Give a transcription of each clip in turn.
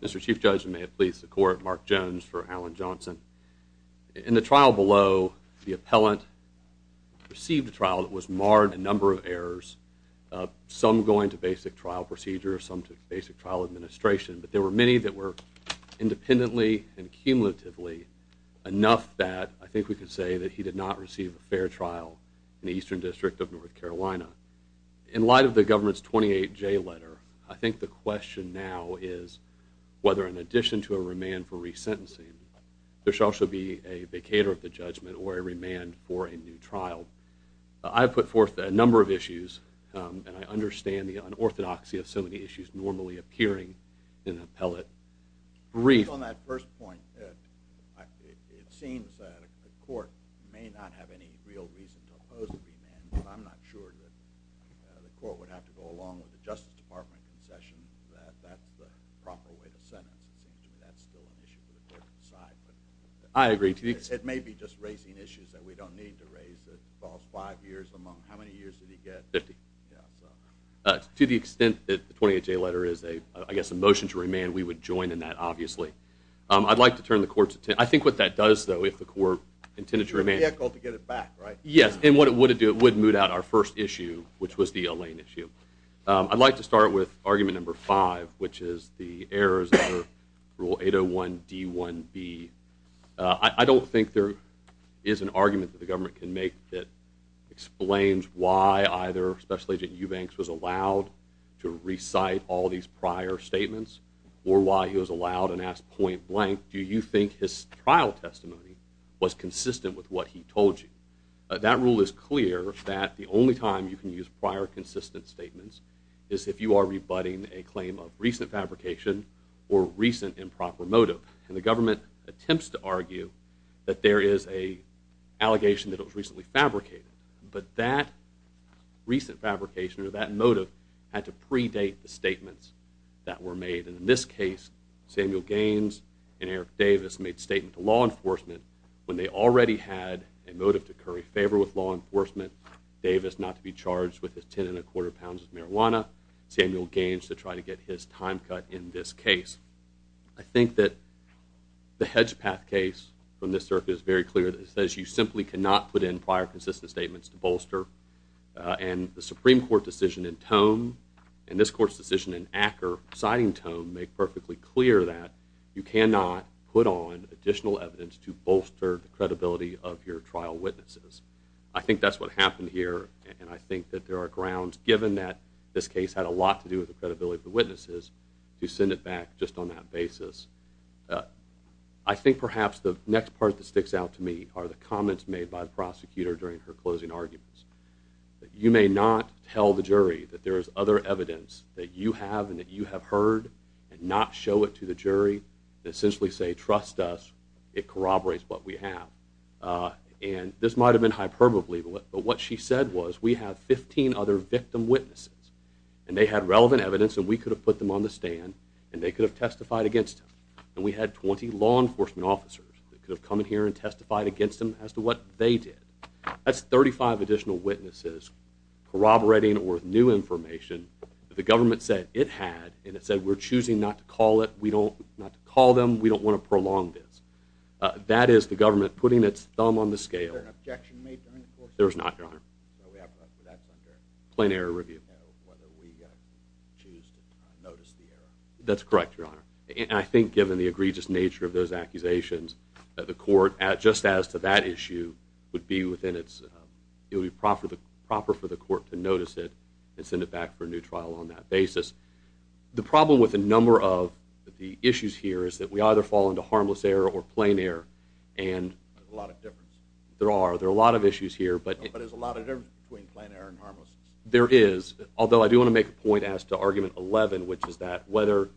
Mr. Chief Judge, and may it please the Court, Mark Jones for Alan Johnson. In the trial below, the appellant received a trial that was marred in a number of errors, some going to basic trial procedures, some to basic trial administration, but there were many that were independently and cumulatively enough that I think we can say that he did not receive a fair trial in the Eastern District of North Carolina. In light of the government's 28J letter, I think the question now is whether, in addition to a remand for resentencing, there shall also be a vacator of the judgment or a remand for a new trial. I put forth a number of issues, and I think on that first point, it seems that the Court may not have any real reason to oppose a remand, but I'm not sure that the Court would have to go along with the Justice Department concession that that's the proper way to sentence. It seems to me that's still an issue for the Court to decide, but it may be just raising issues that we don't need to raise that involves five years among, how many years did he get? Fifty. To the extent that the 28J letter is, I guess, a motion to remand, we would join in that, obviously. I'd like to turn the Court's attention, I think what that does, though, if the Court intended to remand. It would be ethical to get it back, right? Yes, and what it would do, it would moot out our first issue, which was the Elaine issue. I'd like to start with argument number five, which is the errors under Rule 801 D1B. I don't think there is an argument that the government can make that explains why either Special Agent Eubanks was allowed to recite all these prior statements or why he was allowed and asked point blank, do you think his trial testimony was consistent with what he told you? That rule is clear that the only time you can use prior consistent statements is if you are rebutting a claim of recent fabrication or recent improper motive. And the government attempts to argue that there is an allegation that it was recently fabricated, but that recent fabrication or that motive had to predate the statements that were made. And in this case, Samuel Gaines and Eric Davis made a statement to law enforcement when they already had a motive to curry favor with law enforcement, Davis not to be charged with his ten and a quarter pounds of marijuana, Samuel Gaines to try to get his time cut in this case. I think that the Hedgepath case from this circuit is very clear that it says you simply cannot put in prior consistent statements to bolster. And the Supreme Court decision in Tome and this court's decision in Acker, citing Tome, make perfectly clear that you cannot put on additional evidence to bolster the credibility of your trial witnesses. I think that's what happened here and I think that there are grounds, given that this case had a lot to do with the credibility of the witnesses, to send it back just on that basis. I think perhaps the next part that sticks out to me are the comments made by the prosecutor during her closing arguments. You may not tell the jury that there is other evidence that you have and that you have heard and not show it to the jury and essentially say, trust us, it corroborates what we have. And this might have been hyperbole, but what she said was, we have 15 other victim witnesses and they had relevant evidence and we could have put them on the stand and they could have testified against them. And we had 20 law enforcement officers that could have come in here and testified against them as to what they did. That's 35 additional witnesses corroborating or with new information that the government said it had and it said we're choosing not to call them, we don't want to prolong this. That is the government putting its thumb on the scale. Was there an objection made to any of the officers? There was not, your honor. So that's under... Plain error review. Whether we choose to notice the error. That's correct, your honor. And I think given the egregious nature of those accusations, the court, just as to that issue, would be within its, it would be proper for the court to notice it and send it back for a new trial on that basis. The problem with a number of the issues here is that we either fall into harmless error or plain error and... There's a lot of difference. There are, there are a lot of issues here, but... But there's a lot of difference between plain error and harmless error. There is, although I do want to make a point as to argument 11, which is that whether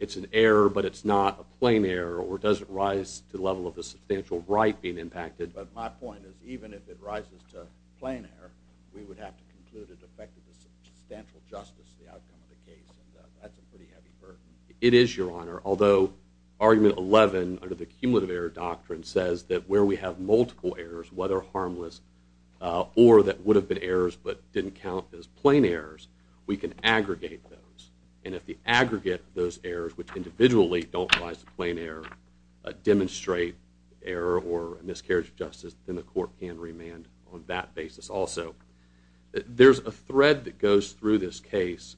it's an error but it's not a plain error or does it rise to the level of a substantial right being impacted. But my point is even if it rises to plain error, we would have to conclude it affected the substantial justice of the outcome of the case. And that's a pretty heavy burden. It is, your honor. Although argument 11, under the cumulative error doctrine, says that where we have multiple errors, whether harmless or that would have been errors but didn't count as plain errors, we can aggregate those. And if we aggregate those errors, which individually don't rise to plain error, demonstrate error or miscarriage of justice, then the court can remand on that basis also. There's a thread that goes through this case,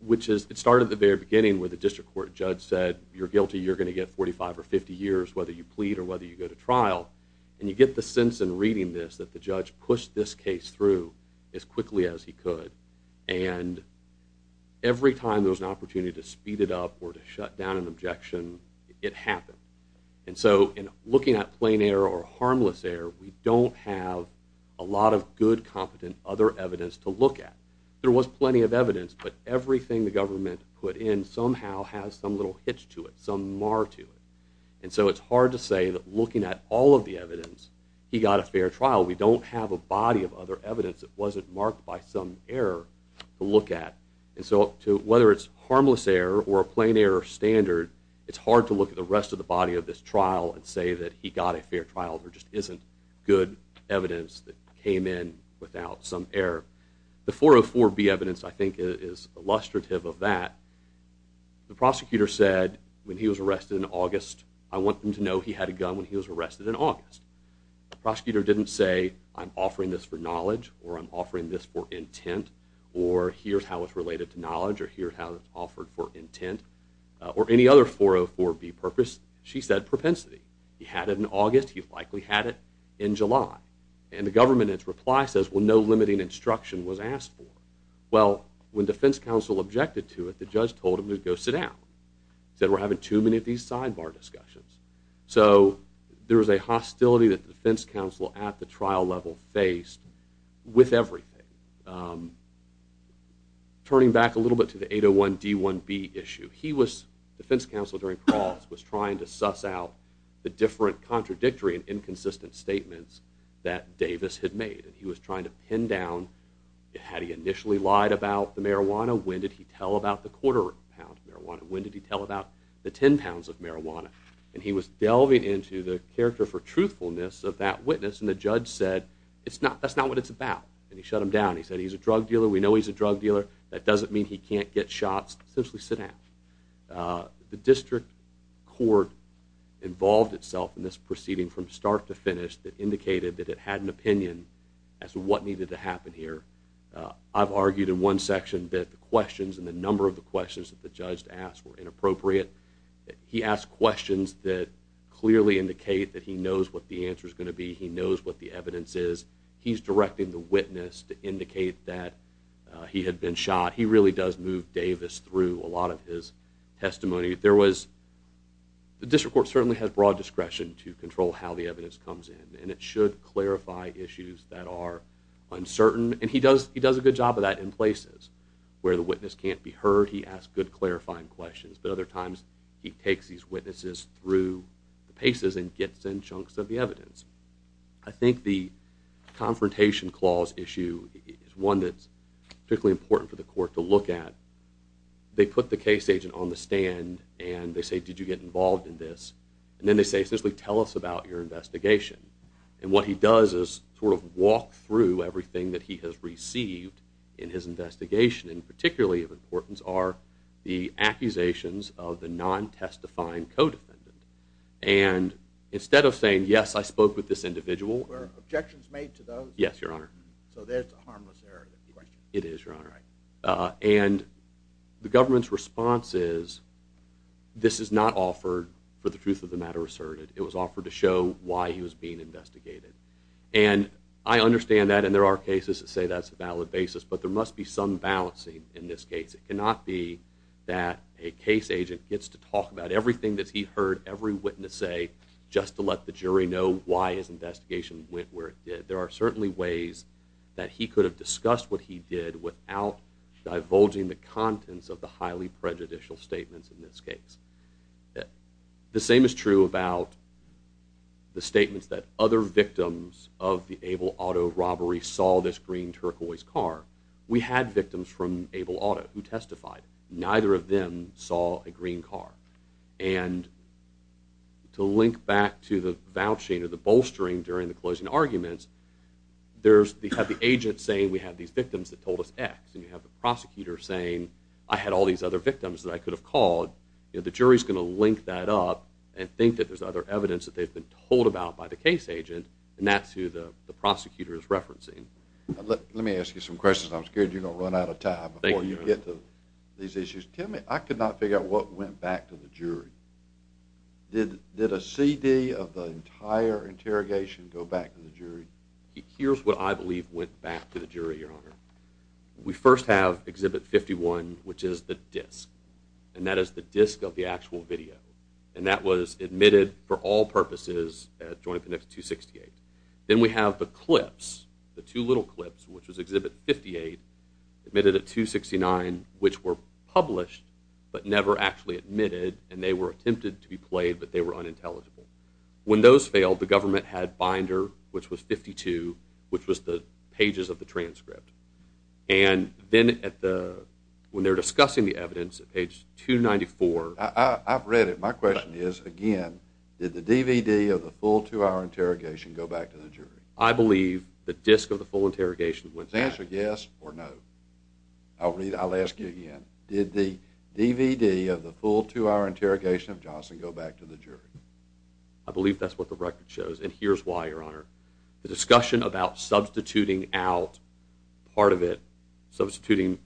which is, it started at the very beginning where the district court judge said, you're guilty, you're going to get 45 or 50 years, whether you plead or whether you go to trial. And you get the sense in reading this that the judge pushed this case through as quickly as he could. And every time there was an opportunity to speed it up or to shut down an objection, it happened. And so in looking at plain error or harmless error, we don't have a lot of good, competent other evidence to look at. There was plenty of evidence, but everything the government put in somehow has some little hitch to it, some mar to it. And so it's hard to say that looking at all of the evidence, he got a fair trial. We don't have a body of other evidence that wasn't marked by some error to look at. And so whether it's harmless error or a plain error standard, it's hard to look at the rest of the body of this trial and say that he got a fair trial. There just isn't good evidence that came in without some error. The 404B evidence, I think, is illustrative of that. The prosecutor said when he was arrested in August, I want them to know he had a gun when he was arrested in August. The prosecutor didn't say, I'm offering this for knowledge, or I'm offering this for intent, or here's how it's related to knowledge, or here's how it's offered for intent, or any other 404B purpose. She said propensity. He had it in August. He likely had it in July. And the government, in its reply, says, well, no limiting instruction was asked for. Well, when defense counsel objected to it, the judge told him to go sit down. He said, we're having too many of these sidebar discussions. So there was a hostility that the defense counsel at the trial level faced with everything. Turning back a little bit to the 801D1B issue, he was, defense counsel during Crawls, was trying to suss out the different contradictory and inconsistent statements that Davis had made. And he was trying to pin down, had he initially lied about the marijuana? When did he tell about the quarter pound of marijuana? When did he tell about the 10 pounds of marijuana? And he was delving into the character for truthfulness of that witness. And the judge said, that's not what it's about. And he shut him down. He said, he's a drug dealer. We know he's a drug dealer. That doesn't mean he can't get shots. Essentially, sit down. The district court involved itself in this proceeding from start to finish that indicated that it had an opinion as to what needed to happen here. I've argued in one section that the questions and the number of the questions that the judge asked were inappropriate. He asked questions that clearly indicate that he knows what the answer is going to be. He knows what the evidence is. He's directing the witness to indicate that he had been shot. He really does move Davis through a lot of his testimony. There was, the district court certainly has broad discretion to control how the evidence comes in. And it should clarify issues that are uncertain. And he does a good job of that in places where the witness can't be heard. He asks good clarifying questions. But other times, he takes these witnesses through the paces and gets in chunks of the evidence. I think the confrontation clause issue is one that's particularly important for the court to look at. They put the case agent on the stand and they say, did you get involved in this? And then they say, essentially, tell us about your investigation. And what he does is sort of walk through everything that he has received in his investigation. And particularly of importance are the accusations of the non-testifying co-defendant. And instead of saying, yes, I spoke with this individual. Were objections made to those? Yes, Your Honor. So there's the harmless area question. It is, Your Honor. And the government's response is, this is not offered for the truth of the matter asserted. It was offered to show why he was being investigated. And I understand that. And there are cases that say that's a valid basis. But there must be some balancing in this case. It cannot be that a case agent gets to talk about everything that he heard every witness say just to let the jury know why his investigation went where it did. There are certainly ways that he could have discussed what he did without divulging the contents of the highly prejudicial statements in this case. The same is true about the statements that other victims of the Able Auto robbery saw this green turquoise car. We had victims from Able Auto who testified. Neither of them saw a green car. And to link back to the vouching or the bolstering during the closing arguments, you have the agent saying we have these victims that told us X. And you have the prosecutor saying I had all these other victims that I could have called. The jury is going to link that up and think that there's other evidence that they've been told about by the case agent. And that's who the prosecutor is referencing. Let me ask you some questions. I'm scared you're going to run out of time before you get to these issues. Tell me, I could not figure out what went back to the jury. Did a CD of the entire interrogation go back to the jury? Here's what I believe went back to the jury, Your Honor. We first have Exhibit 51, which is the disk. And that is the disk of the actual video. And that was admitted for all purposes at Joint Conduct 268. Then we have the clips, the two little clips, which was Exhibit 58, admitted at 269, which were published but never actually admitted, and they were attempted to be played, but they were unintelligible. When those failed, the government had Binder, which was 52, which was the pages of the transcript. And then when they were discussing the evidence at page 294. I've read it. My question is, again, did the DVD of the full two-hour interrogation go back to the jury? I believe the disk of the full interrogation went back. Is the answer yes or no? I'll ask you again. Did the DVD of the full two-hour interrogation of Johnson go back to the jury? I believe that's what the record shows, and here's why, Your Honor. The discussion about substituting out part of it, substituting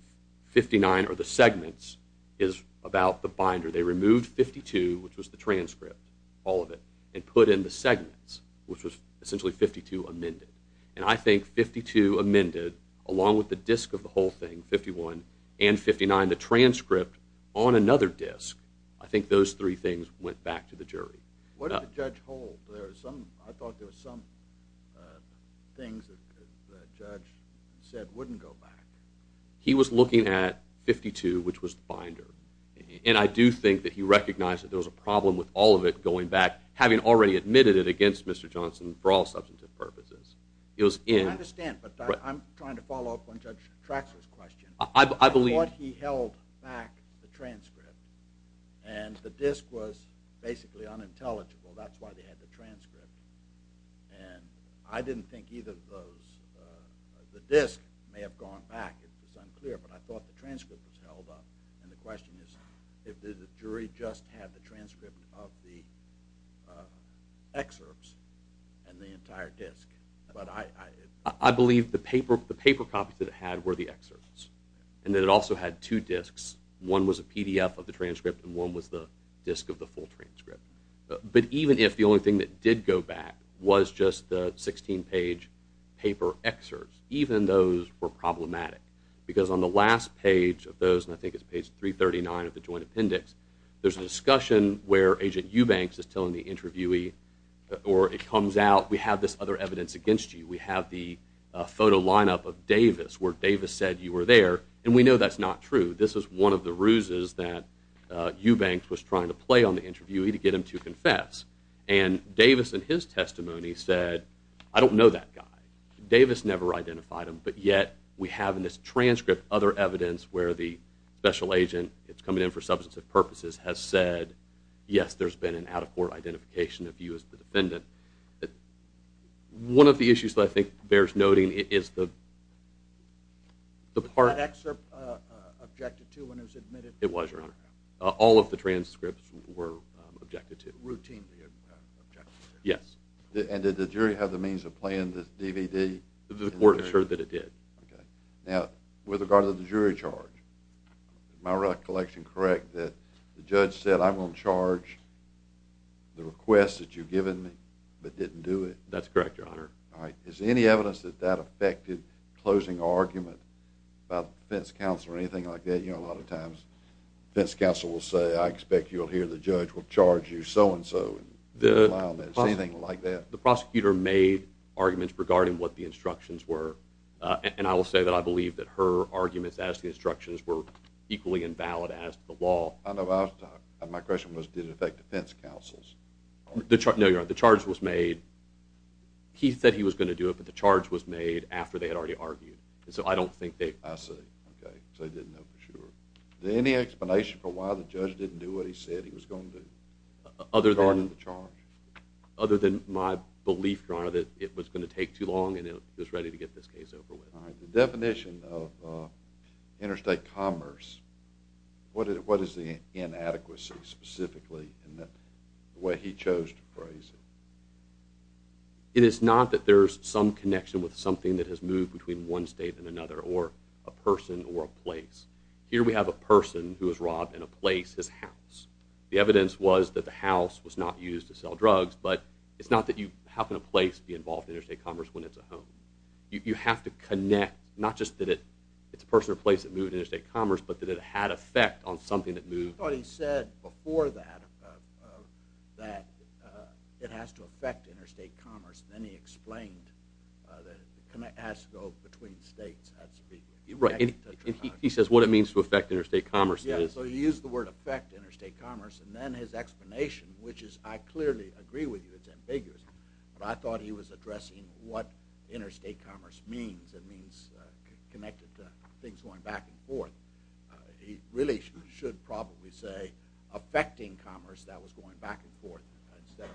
59 or the segments, is about the Binder. They removed 52, which was the transcript, all of it, and put in the segments, which was essentially 52 amended. And I think 52 amended, along with the disk of the whole thing, 51, and 59, the transcript, on another disk. I think those three things went back to the jury. What did the judge hold? I thought there were some things that the judge said wouldn't go back. He was looking at 52, which was the Binder, and I do think that he recognized that there was a problem with all of it going back, having already admitted it against Mr. Johnson for all substantive purposes. I understand, but I'm trying to follow up on Judge Traxler's question. I believe... I thought he held back the transcript, and the disk was basically unintelligible. That's why they had the transcript. And I didn't think either of those... The disk may have gone back. It's unclear, but I thought the transcript was held up. And the question is, did the jury just have the transcript of the excerpts and the entire disk? But I... I believe the paper copies that it had were the excerpts, and that it also had two disks. One was a PDF of the transcript, and one was the disk of the full transcript. But even if the only thing that did go back was just the 16-page paper excerpts, even those were problematic. Because on the last page of those, and I think it's page 339 of the joint appendix, there's a discussion where Agent Eubanks is telling the interviewee, or it comes out, we have this other evidence against you. We have the photo lineup of Davis, where Davis said you were there, and we know that's not true. This is one of the ruses that Eubanks was trying to play on the interviewee to get him to confess. And Davis, in his testimony, said, I don't know that guy. Davis never identified him, but yet we have in this transcript other evidence where the special agent that's coming in for substantive purposes has said, yes, there's been an out-of-court identification of you as the defendant. One of the issues that I think bears noting is the part... It was, Your Honor. All of the transcripts were objected to. Routinely objected to. Yes. And did the jury have the means of playing this DVD? The court assured that it did. Okay. Now, with regard to the jury charge, is my recollection correct that the judge said, I'm going to charge the request that you've given me, but didn't do it? That's correct, Your Honor. All right. Is there any evidence that that affected closing argument by the defense counsel or anything like that? You know, a lot of times defense counsel will say, I expect you'll hear the judge will charge you so-and-so and didn't rely on that. Is there anything like that? The prosecutor made arguments regarding what the instructions were, and I will say that I believe that her arguments as the instructions were equally invalid as the law. My question was, did it affect defense counsels? No, Your Honor. The charge was made... He said he was going to do it, but the charge was made after they had already argued. So I don't think they... I see. Okay, so they didn't know for sure. Is there any explanation for why the judge didn't do what he said he was going to do? Other than... Other than the charge? Other than my belief, Your Honor, that it was going to take too long and it was ready to get this case over with. All right. The definition of interstate commerce, what is the inadequacy specifically in the way he chose to phrase it? It is not that there is some connection with something that has moved between one state and another or a person or a place. Here we have a person who was robbed in a place, his house. The evidence was that the house was not used to sell drugs, but it's not that you... How can a place be involved in interstate commerce when it's a home? You have to connect, not just that it's a person or place that moved interstate commerce, but that it had effect on something that moved... But he said before that that it has to affect interstate commerce, and then he explained that it has to go between states. He says what it means to affect interstate commerce. Yeah, so he used the word affect interstate commerce, and then his explanation, which is I clearly agree with you, it's ambiguous, but I thought he was addressing what interstate commerce means. It means connected to things going back and forth. He really should probably say affecting commerce that was going back and forth instead of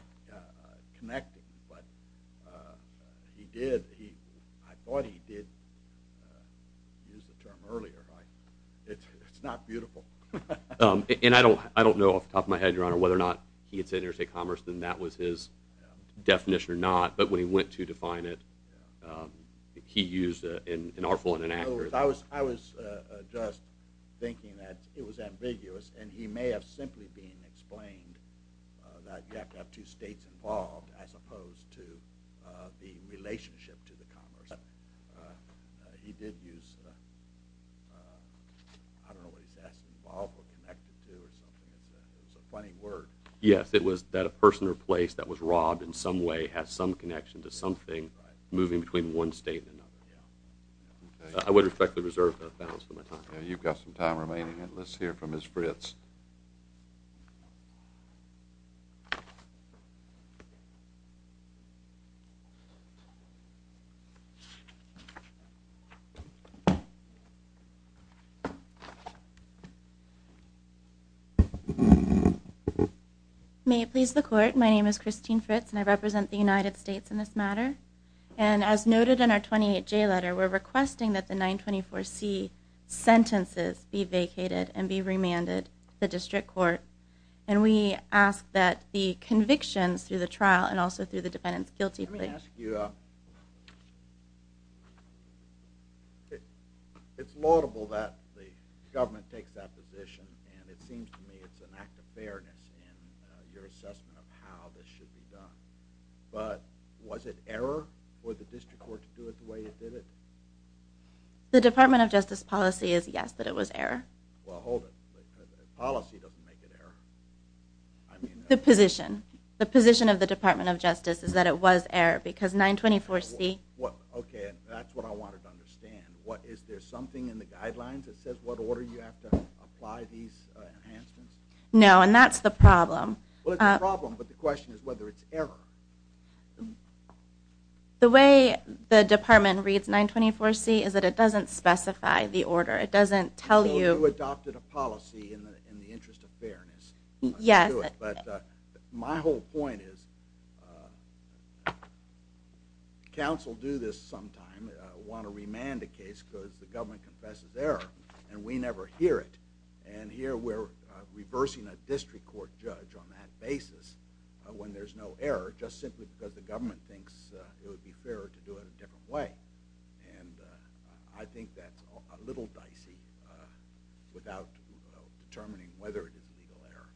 connected. But he did. I thought he did use the term earlier. It's not beautiful. And I don't know off the top of my head, Your Honor, whether or not he had said interstate commerce, and that was his definition or not, but when he went to define it, he used an artful and inaccurate... I was just thinking that it was ambiguous, and he may have simply been explaining that you have to have two states involved as opposed to the relationship to the commerce. He did use... I don't know what he's asking involved or connected to or something like that. It was a funny word. Yes, it was that a person or place that was robbed in some way has some connection to something moving between one state and another. Yeah. I would respectfully reserve that balance for my time. Yeah, you've got some time remaining. Let's hear from Ms. Fritz. May it please the court. My name is Christine Fritz, and I represent the United States in this matter. And as noted in our 28J letter, we're requesting that the 924C sentences be vacated and be remanded to the district court. and all of the other charges be remanded to the district court. Let me ask you... It's laudable that the government takes that position, and it seems to me it's an act of fairness in your assessment of how this should be done. But was it error for the district court to do it the way it did it? The Department of Justice policy is yes, that it was error. Well, hold it. Policy doesn't make it error. The position. The position of the Department of Justice is that it was error because 924C... Okay, that's what I wanted to understand. Is there something in the guidelines that says what order you have to apply these enhancements? No, and that's the problem. Well, it's a problem, but the question is whether it's error. The way the Department reads 924C is that it doesn't specify the order. It doesn't tell you... You adopted a policy in the interest of fairness. Yes. My whole point is council do this sometime, want to remand a case because the government confesses error, and we never hear it. And here we're reversing a district court judge on that basis when there's no error, just simply because the government thinks it would be fairer to do it a different way. And I think that's a little dicey without determining whether it is legal error.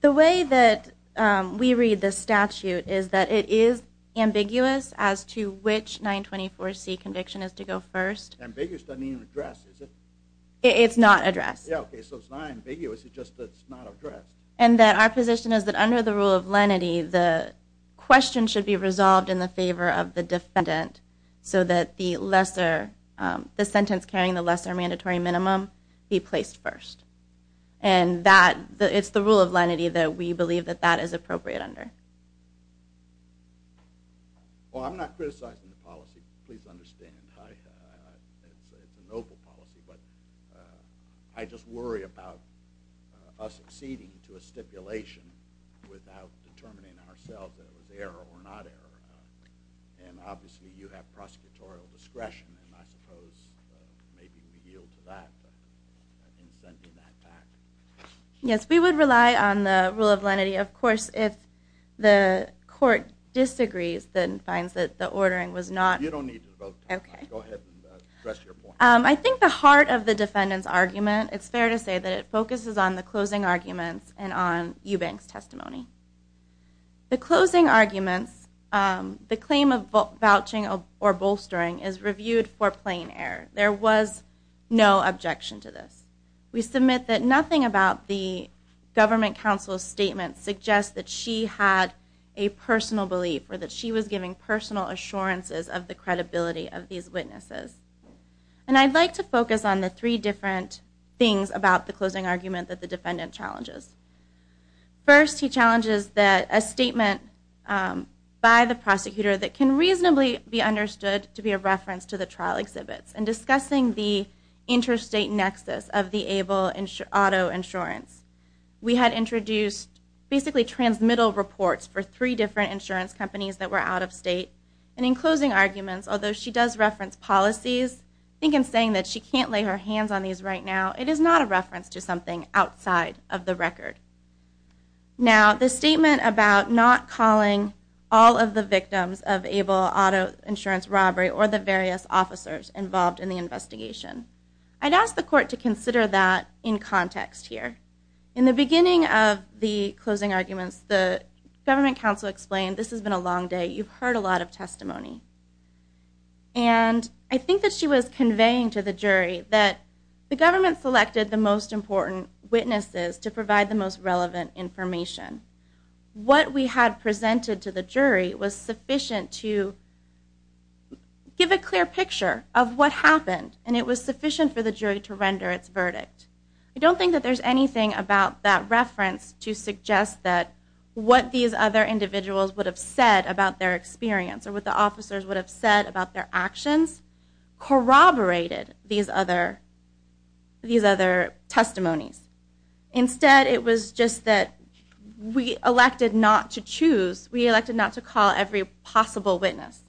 The way that we read the statute is that it is ambiguous as to which 924C conviction is to go first. Ambiguous doesn't even address, is it? It's not addressed. Okay, so it's not ambiguous, it's just that it's not addressed. And that our position is that under the rule of lenity, the question should be resolved in the favor of the defendant so that the lesser... be placed first. And it's the rule of lenity that we believe that that is appropriate under. Well, I'm not criticizing the policy, please understand. It's a noble policy, but I just worry about us acceding to a stipulation without determining ourselves that it was error or not error. And obviously you have prosecutorial discretion, and I suppose maybe we yield to that in sending that back. Yes, we would rely on the rule of lenity. Of course, if the court disagrees, then finds that the ordering was not... You don't need to vote. Okay. Go ahead and address your point. I think the heart of the defendant's argument, it's fair to say, that it focuses on the closing arguments and on Eubank's testimony. The closing arguments, the claim of vouching or bolstering is reviewed for plain error. There was no objection to this. We submit that nothing about the government counsel's statement suggests that she had a personal belief or that she was giving personal assurances of the credibility of these witnesses. And I'd like to focus on the three different things about the closing argument that the defendant challenges. First, he challenges that a statement by the prosecutor that can reasonably be understood to be a reference to the trial exhibits in discussing the interstate nexus of the ABLE auto insurance. We had introduced basically transmittal reports for three different insurance companies that were out of state. And in closing arguments, although she does reference policies, I think in saying that she can't lay her hands on these right now, it is not a reference to something outside of the record. Now, the statement about not calling all of the victims of ABLE auto insurance robbery or the various officers involved in the investigation, I'd ask the court to consider that in context here. In the beginning of the closing arguments, the government counsel explained, this has been a long day, you've heard a lot of testimony. And I think that she was conveying to the jury that the government selected the most important witnesses to provide the most relevant information. What we had presented to the jury was sufficient to give a clear picture of what happened, and it was sufficient for the jury to render its verdict. I don't think that there's anything about that reference to suggest that what these other individuals would have said about their experience or what the officers would have said about their actions corroborated these other testimonies. Instead, it was just that we elected not to choose, we elected not to call every possible witness.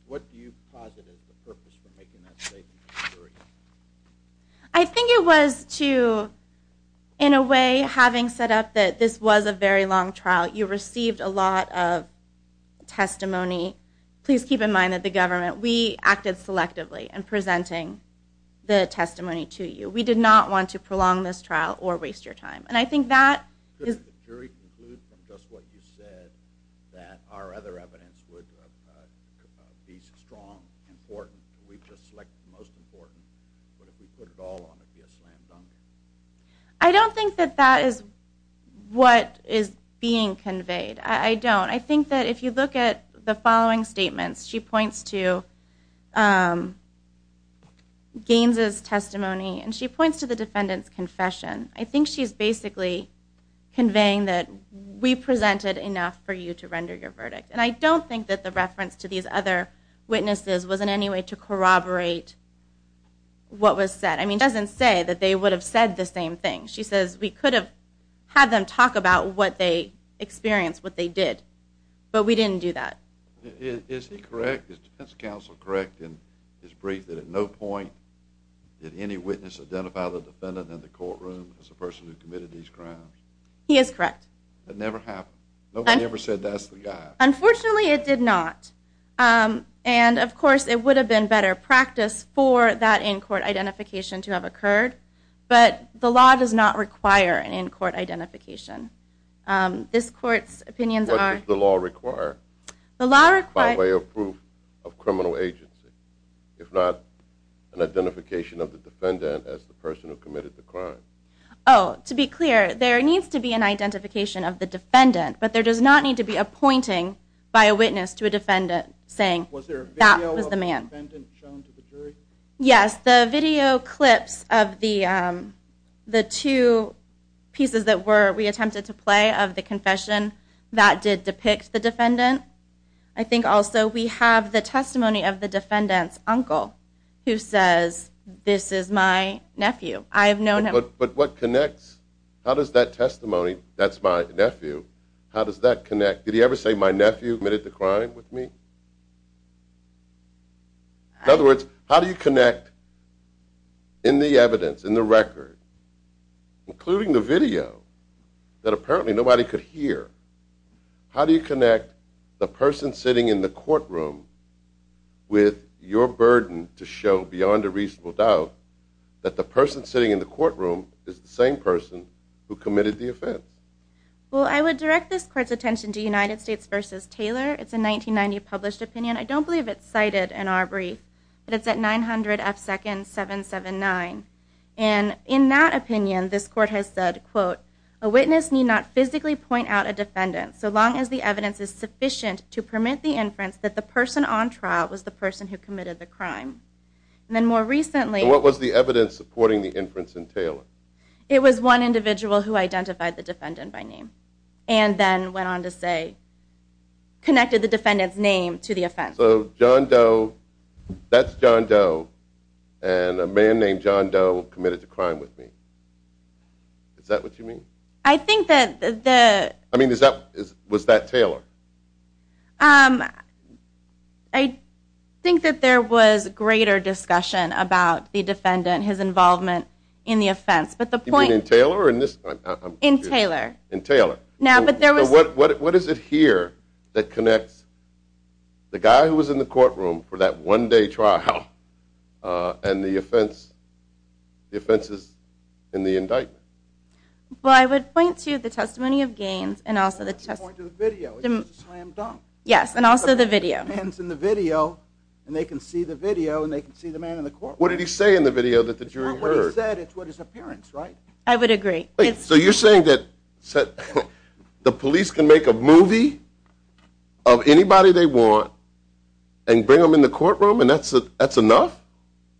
I think it was to, in a way, having set up that this was a very long trial, you received a lot of testimony. Please keep in mind that the government, we acted selectively in presenting the testimony to you. We did not want to prolong this trial or waste your time. I don't think that that is what is being conveyed. I don't. I think that if you look at the following statements, she points to Gaines' testimony and she points to the defendant's confession. I think she's basically conveying that we presented enough for you to render your verdict. And I don't think that the reference to these other witnesses was in any way to corroborate what was said. She doesn't say that they would have said the same thing. She says we could have had them talk about what they experienced, what they did, but we didn't do that. Is he correct, is defense counsel correct, in his brief, that at no point did any witness identify the defendant in the courtroom as a person who committed these crimes? He is correct. That never happened? Nobody ever said that's the guy? Unfortunately, it did not. And, of course, it would have been better practice for that in-court identification to have occurred, but the law does not require an in-court identification. This court's opinions are... The law requires... ...by way of proof of criminal agency, if not an identification of the defendant as the person who committed the crime. Oh, to be clear, there needs to be an identification of the defendant, but there does not need to be a pointing by a witness to a defendant saying that was the man. Was there a video of the defendant shown to the jury? Yes, the video clips of the two pieces that we attempted to play of the confession that did depict the defendant. I think also we have the testimony of the defendant's uncle who says, this is my nephew. I have known him... But what connects? How does that testimony, that's my nephew, how does that connect? Did he ever say, my nephew committed the crime with me? In other words, how do you connect in the evidence, in the record, including the video, that apparently nobody could hear? How do you connect the person sitting in the courtroom with your burden to show, beyond a reasonable doubt, that the person sitting in the courtroom is the same person who committed the offense? Well, I would direct this court's attention to United States v. Taylor. It's a 1990 published opinion. I don't believe it's cited in our brief, but it's at 900 F. Second 779. And in that opinion, this court has said, quote, a witness need not physically point out a defendant so long as the evidence is sufficient to permit the inference that the person on trial was the person who committed the crime. And then more recently... So what was the evidence supporting the inference in Taylor? It was one individual who identified the defendant by name and then went on to say, connected the defendant's name to the offense. So John Doe, that's John Doe, and a man named John Doe committed the crime with me. Is that what you mean? I think that the... I mean, was that Taylor? I think that there was greater discussion about the defendant, his involvement in the offense, but the point... You mean in Taylor or in this... In Taylor. In Taylor. Now, but there was... What is it here that connects the guy who was in the courtroom for that one-day trial and the offenses in the indictment? Well, I would point to the testimony of Gaines and also the testimony... Point to the video. It's just a slam dunk. Yes, and also the video. The man's in the video, and they can see the video, and they can see the man in the courtroom. What did he say in the video that the jury heard? It's not what he said. It's what his appearance, right? I would agree. So you're saying that the police can make a movie of anybody they want and bring them in the courtroom, and that's enough?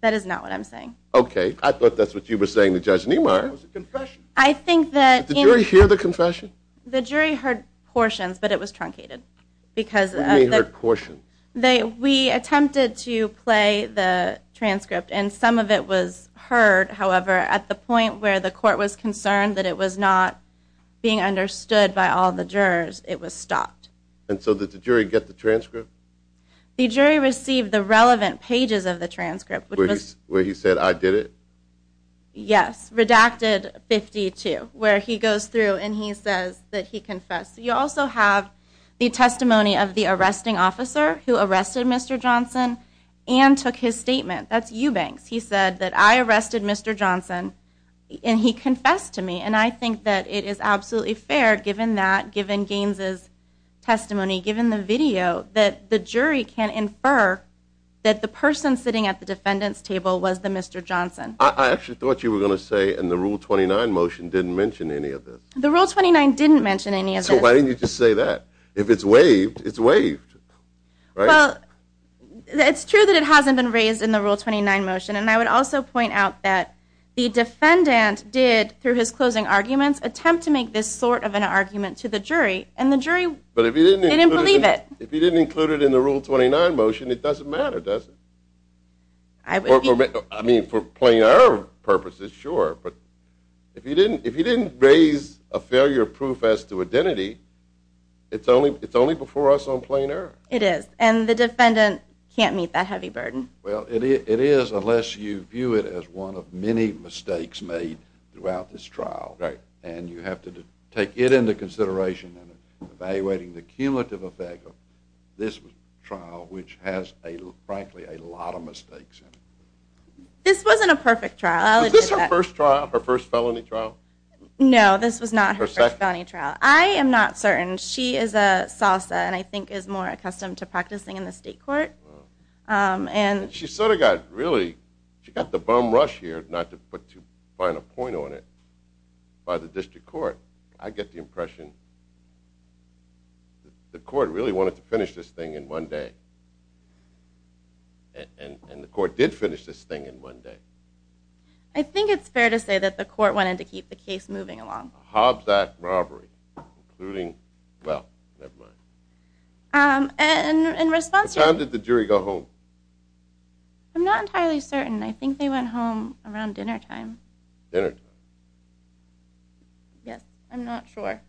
That is not what I'm saying. Okay. I thought that's what you were saying to Judge Niemeyer. It was a confession. I think that... Did the jury hear the confession? The jury heard portions, but it was truncated because of the... What do you mean, heard portions? We attempted to play the transcript, and some of it was heard. However, at the point where the court was concerned that it was not being understood by all the jurors, it was stopped. And so did the jury get the transcript? The jury received the relevant pages of the transcript, which was... Where he said, I did it? Yes. Redacted 52, where he goes through, and he says that he confessed. You also have the testimony of the arresting officer who arrested Mr. Johnson and took his statement. That's Eubanks. He said that, I arrested Mr. Johnson, and he confessed to me. And I think that it is absolutely fair, given that, given Gaines's testimony, given the video, that the jury can infer that the person sitting at the defendant's table was the Mr. Johnson. I actually thought you were going to say, in the Rule 29 motion, didn't mention any of this. The Rule 29 didn't mention any of this. So why didn't you just say that? If it's waived, it's waived. Well, it's true that it hasn't been raised in the Rule 29 motion, and I would also point out that the defendant did, through his closing arguments, attempt to make this sort of an argument to the jury, and the jury, they didn't believe it. But if you didn't include it in the Rule 29 motion, it doesn't matter, does it? I mean, for plain error purposes, sure, but if you didn't raise a failure proof as to identity, it's only before us on plain error. It is, and the defendant can't meet that heavy burden. Well, it is, unless you view it as one of many mistakes made throughout this trial, and you have to take it into consideration in evaluating the cumulative effect of this trial, which has, frankly, a lot of mistakes in it. This wasn't a perfect trial. Is this her first trial, her first felony trial? No, this was not her first felony trial. I am not certain. She is a Salsa, and I think is more accustomed to practicing in the state court. She sort of got really, she got the bum rush here, not to put too fine a point on it, by the district court. I get the impression the court really wanted to finish this thing in one day, and the court did finish this thing in one day. I think it's fair to say that the court wanted to keep the case moving along. Hobbs Act robbery, including, well, never mind. And in response to that... When did the jury go home? I'm not entirely certain. I think they went home around dinner time. Dinner time? Yes, I'm not sure.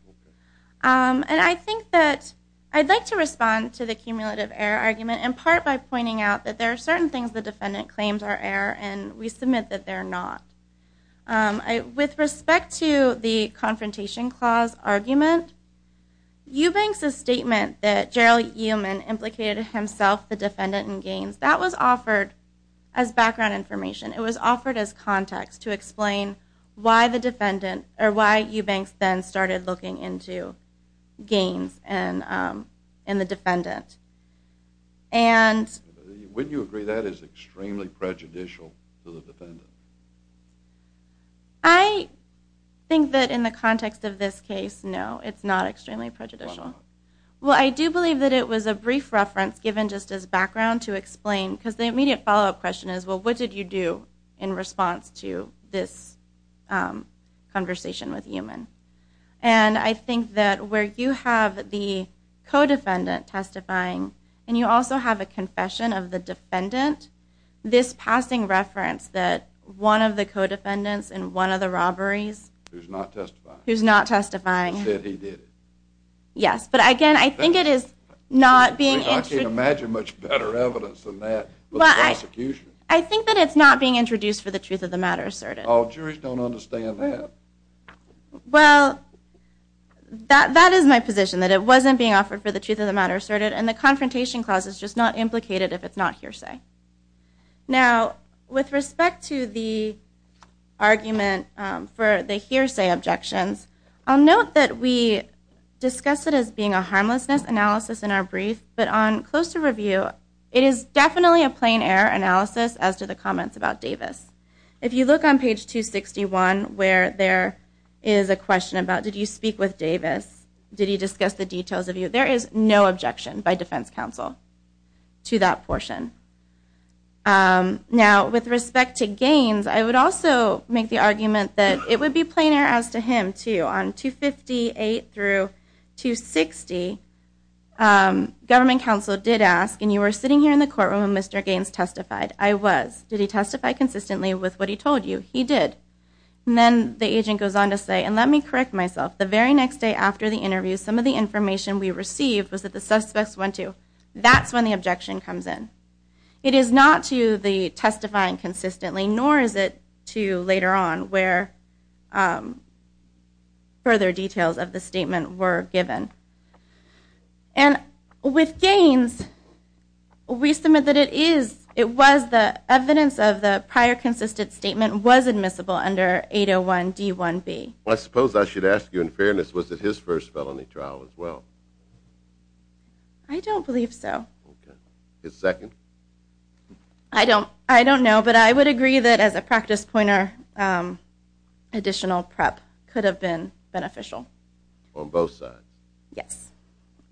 And I think that I'd like to respond to the cumulative error argument in part by pointing out that there are certain things the defendant claims are error, and we submit that they're not. With respect to the confrontation clause argument, Eubanks's statement that Gerald Eumann implicated himself, the defendant, in gains, that was offered as background information. It was offered as context to explain why the defendant, or why Eubanks then started looking into gains in the defendant. And... Wouldn't you agree that is extremely prejudicial to the defendant? I think that in the context of this case, no, it's not extremely prejudicial. Well, I do believe that it was a brief reference given just as background to explain, because the immediate follow-up question is, well, what did you do in response to this conversation with Eumann? And I think that where you have the co-defendant testifying, and you also have a confession of the defendant, this passing reference that one of the co-defendants in one of the robberies... Who's not testifying. Who's not testifying. Said he did it. Yes, but again, I think it is not being... I can't imagine much better evidence than that. I think that it's not being introduced for the truth of the matter asserted. Oh, jurors don't understand that. Well, that is my position, that it wasn't being offered for the truth of the matter asserted, and the confrontation clause is just not implicated if it's not hearsay. Now, with respect to the argument for the hearsay objections, I'll note that we discuss it as being a harmlessness analysis in our brief, but on closer review, it is definitely a plain error analysis as to the comments about Davis. If you look on page 261, where there is a question about, did you speak with Davis? Did he discuss the details of you? There is no objection by defense counsel to that portion. Now, with respect to Gaines, I would also make the argument that it would be plain error as to him, too. On page 258-260, government counsel did ask, and you were sitting here in the courtroom when Mr. Gaines testified. I was. Did he testify consistently with what he told you? He did. And then the agent goes on to say, and let me correct myself, the very next day after the interview, some of the information we received was that the suspects went to, that's when the objection comes in. It is not to the testifying consistently, nor is it to later on, where further details of the statement were given. And with Gaines, we submit that it is, it was the evidence of the prior consistent statement was admissible under 801-D1B. I suppose I should ask you in fairness, was it his first felony trial as well? I don't believe so. His second? I don't know, but I would agree that as a practice pointer, additional prep could have been beneficial. On both sides? Yes.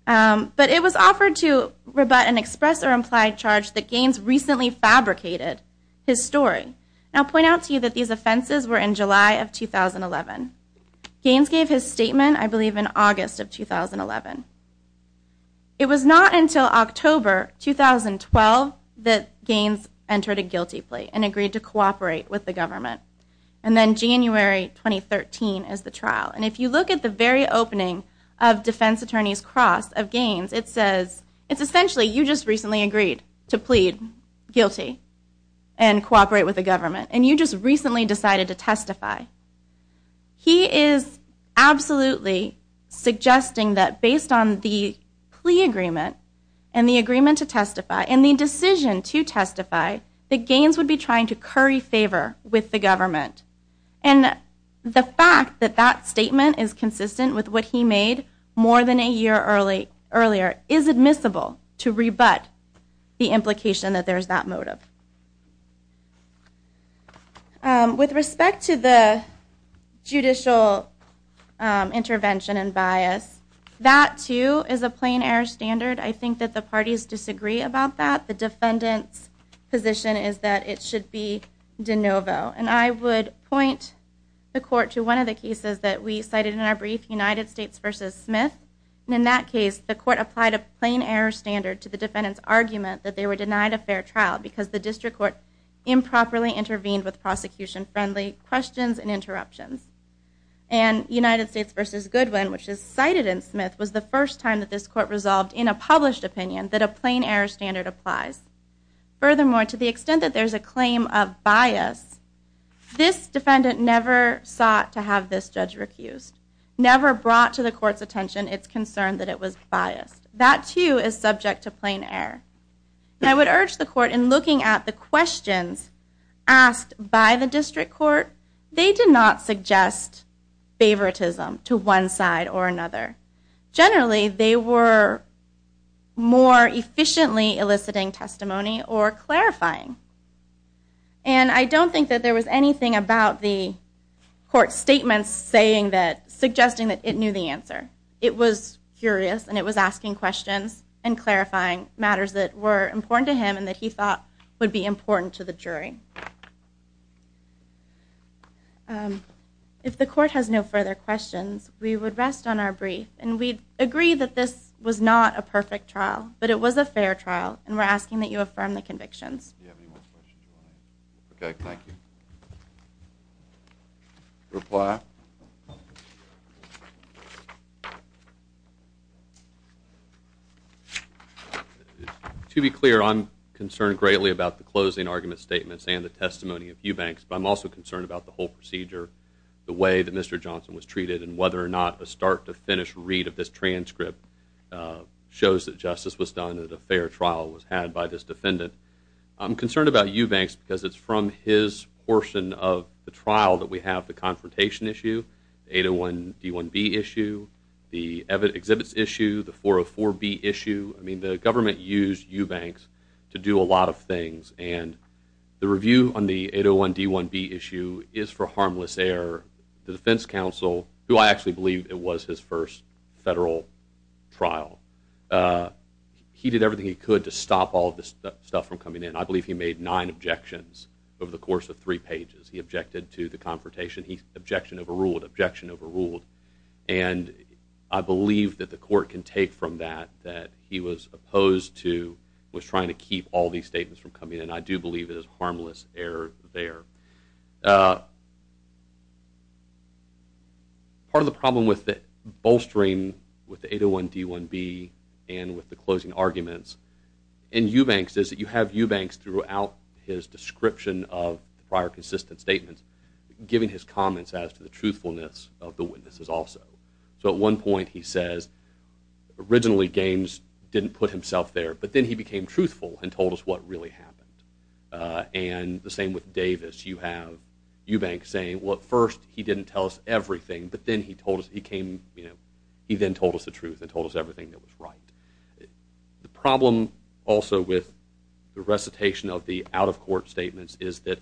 But it was offered to rebut an express or implied charge that Gaines recently fabricated his story. And I'll point out to you that these offenses were in July of 2011. Gaines gave his statement, I believe in August of 2011. It was not until October 2012 that Gaines entered a guilty plea and agreed to cooperate with the government. And then January 2013 is the trial. And if you look at the very opening of defense attorney's cross of Gaines, it says, it's essentially, you just recently agreed to plead guilty and cooperate with the government, and you just recently decided to testify. He is absolutely suggesting that based on the plea agreement and the agreement to testify and the decision to testify, that Gaines would be trying to curry favor with the government. And the fact that that statement is consistent with what he made more than a year earlier is admissible to rebut the implication that there is that motive. With respect to the judicial intervention and bias, that too is a plain air standard. I think that the parties disagree about that. The defendant's position is that it should be de novo. And I would point the court to one of the cases that we cited in our brief, United States v. Smith. In that case, the court applied a plain air standard to the defendant's argument that they were denied a fair trial because the district court improperly intervened with prosecution-friendly questions and interruptions. And United States v. Goodwin, which is cited in Smith, was the first time that this court resolved in a published opinion that a plain air standard applies. Furthermore, to the extent that there's a claim of bias, this defendant never sought to have this judge recused, never brought to the court's attention its concern that it was biased. That too is subject to plain air. And I would urge the court, in looking at the questions asked by the district court, they did not suggest favoritism to one side or another. Generally, they were more efficiently eliciting testimony or clarifying. And I don't think that there was anything about the court's statements suggesting that it knew the answer. It was curious, and it was asking questions and clarifying matters that were important to him and that he thought would be important to the jury. If the court has no further questions, we would rest on our brief. And we agree that this was not a perfect trial, but it was a fair trial, and we're asking that you affirm the convictions. Do you have any more questions? Okay, thank you. Reply. To be clear, I'm concerned greatly about the closing argument statements and the testimony of Eubanks, but I'm also concerned about the whole procedure, the way that Mr. Johnson was treated, and whether or not a start-to-finish read of this transcript shows that justice was done, that a fair trial was had by this defendant. I'm concerned about Eubanks because it's from his portion of the trial that we have the confrontation issue, the 801-D1B issue, the exhibits issue, the 404-B issue. I mean, the government used Eubanks to do a lot of things, and the review on the 801-D1B issue is for harmless error. The defense counsel, who I actually believe it was his first federal trial, he did everything he could to stop all of this stuff from coming in. I believe he made nine objections over the course of three pages. He objected to the confrontation. Objection overruled, objection overruled. And I believe that the court can take from that that he was opposed to, was trying to keep all these statements from coming in, and I do believe it is harmless error there. Part of the problem with the bolstering with the 801-D1B and with the closing arguments in Eubanks is that you have Eubanks throughout his description of the prior consistent statements giving his comments as to the truthfulness of the witnesses also. So at one point he says, originally Gaines didn't put himself there, but then he became truthful and told us what really happened. And the same with Davis. You have Eubanks saying, well, at first he didn't tell us everything, but then he told us, he came, you know, he then told us the truth and told us everything that was right. The problem also with the recitation of the out-of-court statements is that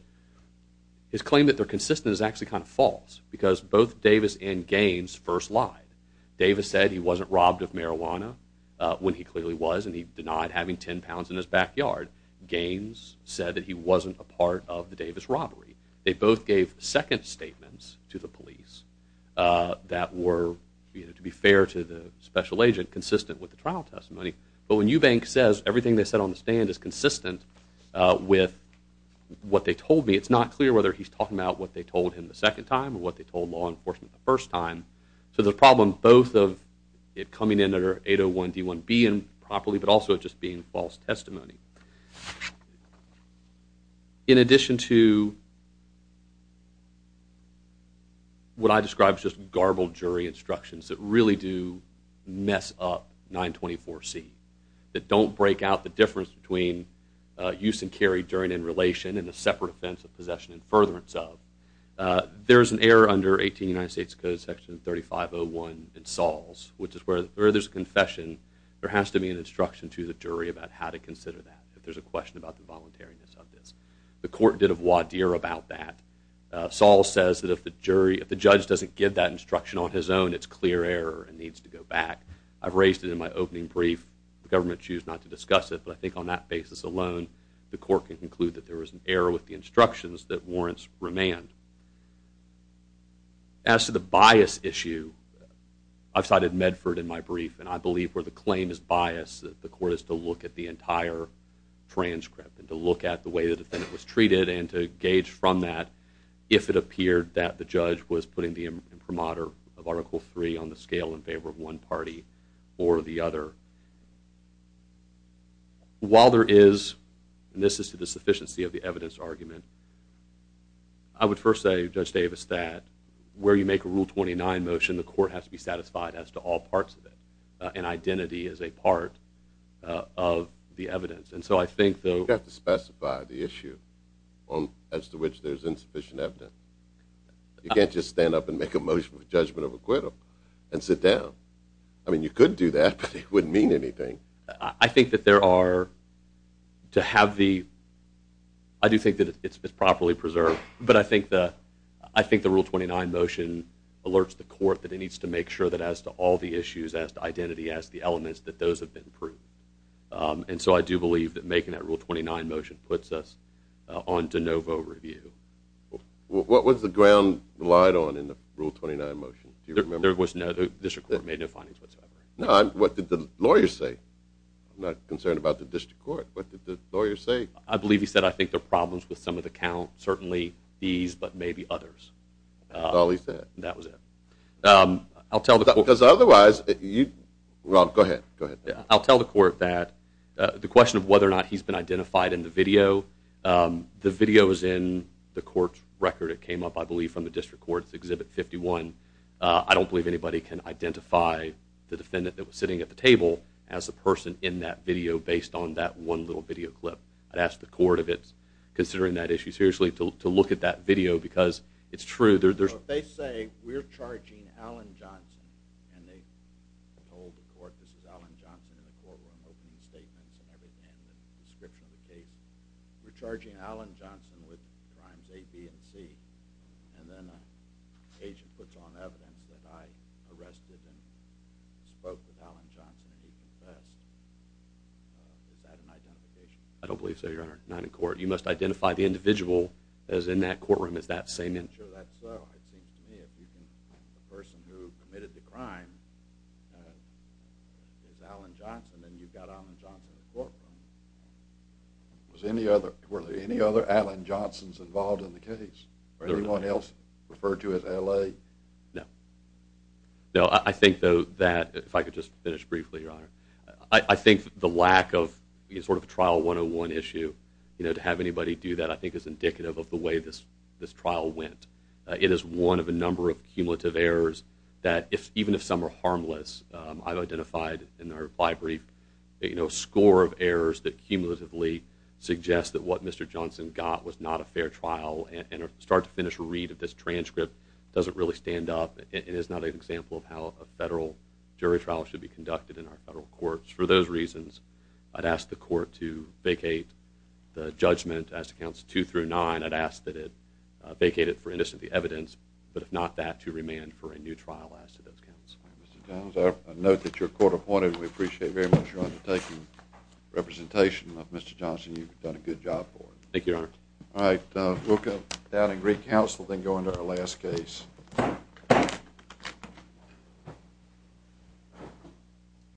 his claim that they're consistent is actually kind of false because both Davis and Gaines first lied. Davis said he wasn't robbed of marijuana, when he clearly was, and he denied having 10 pounds in his backyard. Gaines said that he wasn't a part of the Davis robbery. They both gave second statements to the police that were, to be fair to the special agent, consistent with the trial testimony. But when Eubanks says everything they said on the stand is consistent with what they told me, it's not clear whether he's talking about what they told him the second time or what they told law enforcement the first time. So the problem both of it coming in under 801D1B improperly but also it just being false testimony. In addition to what I describe as just garbled jury instructions that really do mess up 924C, that don't break out the difference between use and carry during in relation and a separate offense of possession and furtherance of, there's an error under 18 United States Code, section 3501 in Saul's, which is where there's a confession, there has to be an instruction to the jury about how to consider that, if there's a question about the voluntariness of this. The court did a voir dire about that. Saul says that if the jury, if the judge doesn't give that instruction on his own, it's clear error and needs to go back. I've raised it in my opening brief. The government choose not to discuss it, but I think on that basis alone, the court can conclude that there was an error with the instructions that warrants remand. As to the bias issue, I've cited Medford in my brief and I believe where the claim is biased, the court has to look at the entire transcript and to look at the way the defendant was treated and to gauge from that, if it appeared that the judge was putting the imprimatur of Article III on the scale in favor of one party or the other. While there is, and this is to the sufficiency of the evidence argument, I would first say, Judge Davis, that where you make a Rule 29 motion, the court has to be satisfied as to all parts of it and identity is a part of the evidence. And so I think, though... You have to specify the issue as to which there's insufficient evidence. You can't just stand up and make a motion of judgment of acquittal and sit down. I mean, you could do that, but it wouldn't mean anything. I think that there are, to have the... I do think that it's properly preserved, but I think the Rule 29 motion alerts the court that it needs to make sure that as to all the issues, as to identity, as to the elements, that those have been proved. And so I do believe that making that Rule 29 motion puts us on de novo review. What was the ground relied on in the Rule 29 motion? Do you remember? There was no... The district court made no findings whatsoever. No, what did the lawyer say? I'm not concerned about the district court. What did the lawyer say? I believe he said, I think there are problems with some of the count, certainly these, but maybe others. That's all he said? That was it. I'll tell the court... Because otherwise, you... Rob, go ahead, go ahead. I'll tell the court that the question of whether or not he's been identified in the video, the video is in the court's record. It came up, I believe, from the district court. It's Exhibit 51. I don't believe anybody can identify the defendant that was sitting at the table as the person in that video based on that one little video clip. I'd ask the court, if it's considering that issue seriously, to look at that video because it's true. They say, we're charging Alan Johnson, and they told the court, this is Alan Johnson, and the court will open the statements and everything in the description of the case. We're charging Alan Johnson with crimes A, B, and C. And then the agent puts on evidence that I arrested and spoke with Alan Johnson and he confessed. Is that an identification? I don't believe so, Your Honor. Not in court. You must identify the individual that was in that courtroom as that same individual. Sure, that's so. It seems to me if you can... The person who committed the crime is Alan Johnson, Was any other... Were there any other Alan Johnsons involved in the case? Or anyone else referred to as A.L.A.? No. No, I think, though, that... If I could just finish briefly, Your Honor. I think the lack of sort of trial 101 issue, to have anybody do that, I think is indicative of the way this trial went. It is one of a number of cumulative errors that even if some are harmless, I've identified in our brief a score of errors that cumulatively suggest that what Mr. Johnson got was not a fair trial and start to finish a read of this transcript doesn't really stand up and is not an example of how a federal jury trial should be conducted in our federal courts. For those reasons, I'd ask the court to vacate the judgment as to counts 2 through 9. I'd ask that it vacate it for innocently evidence, but if not that, to remand for a new trial as to those counts. Mr. Johns, I note that you're court-appointed. We appreciate very much your undertaking. Representation of Mr. Johnson, you've done a good job for it. Thank you, Your Honor. All right. We'll go down and recounsel, then go into our last case.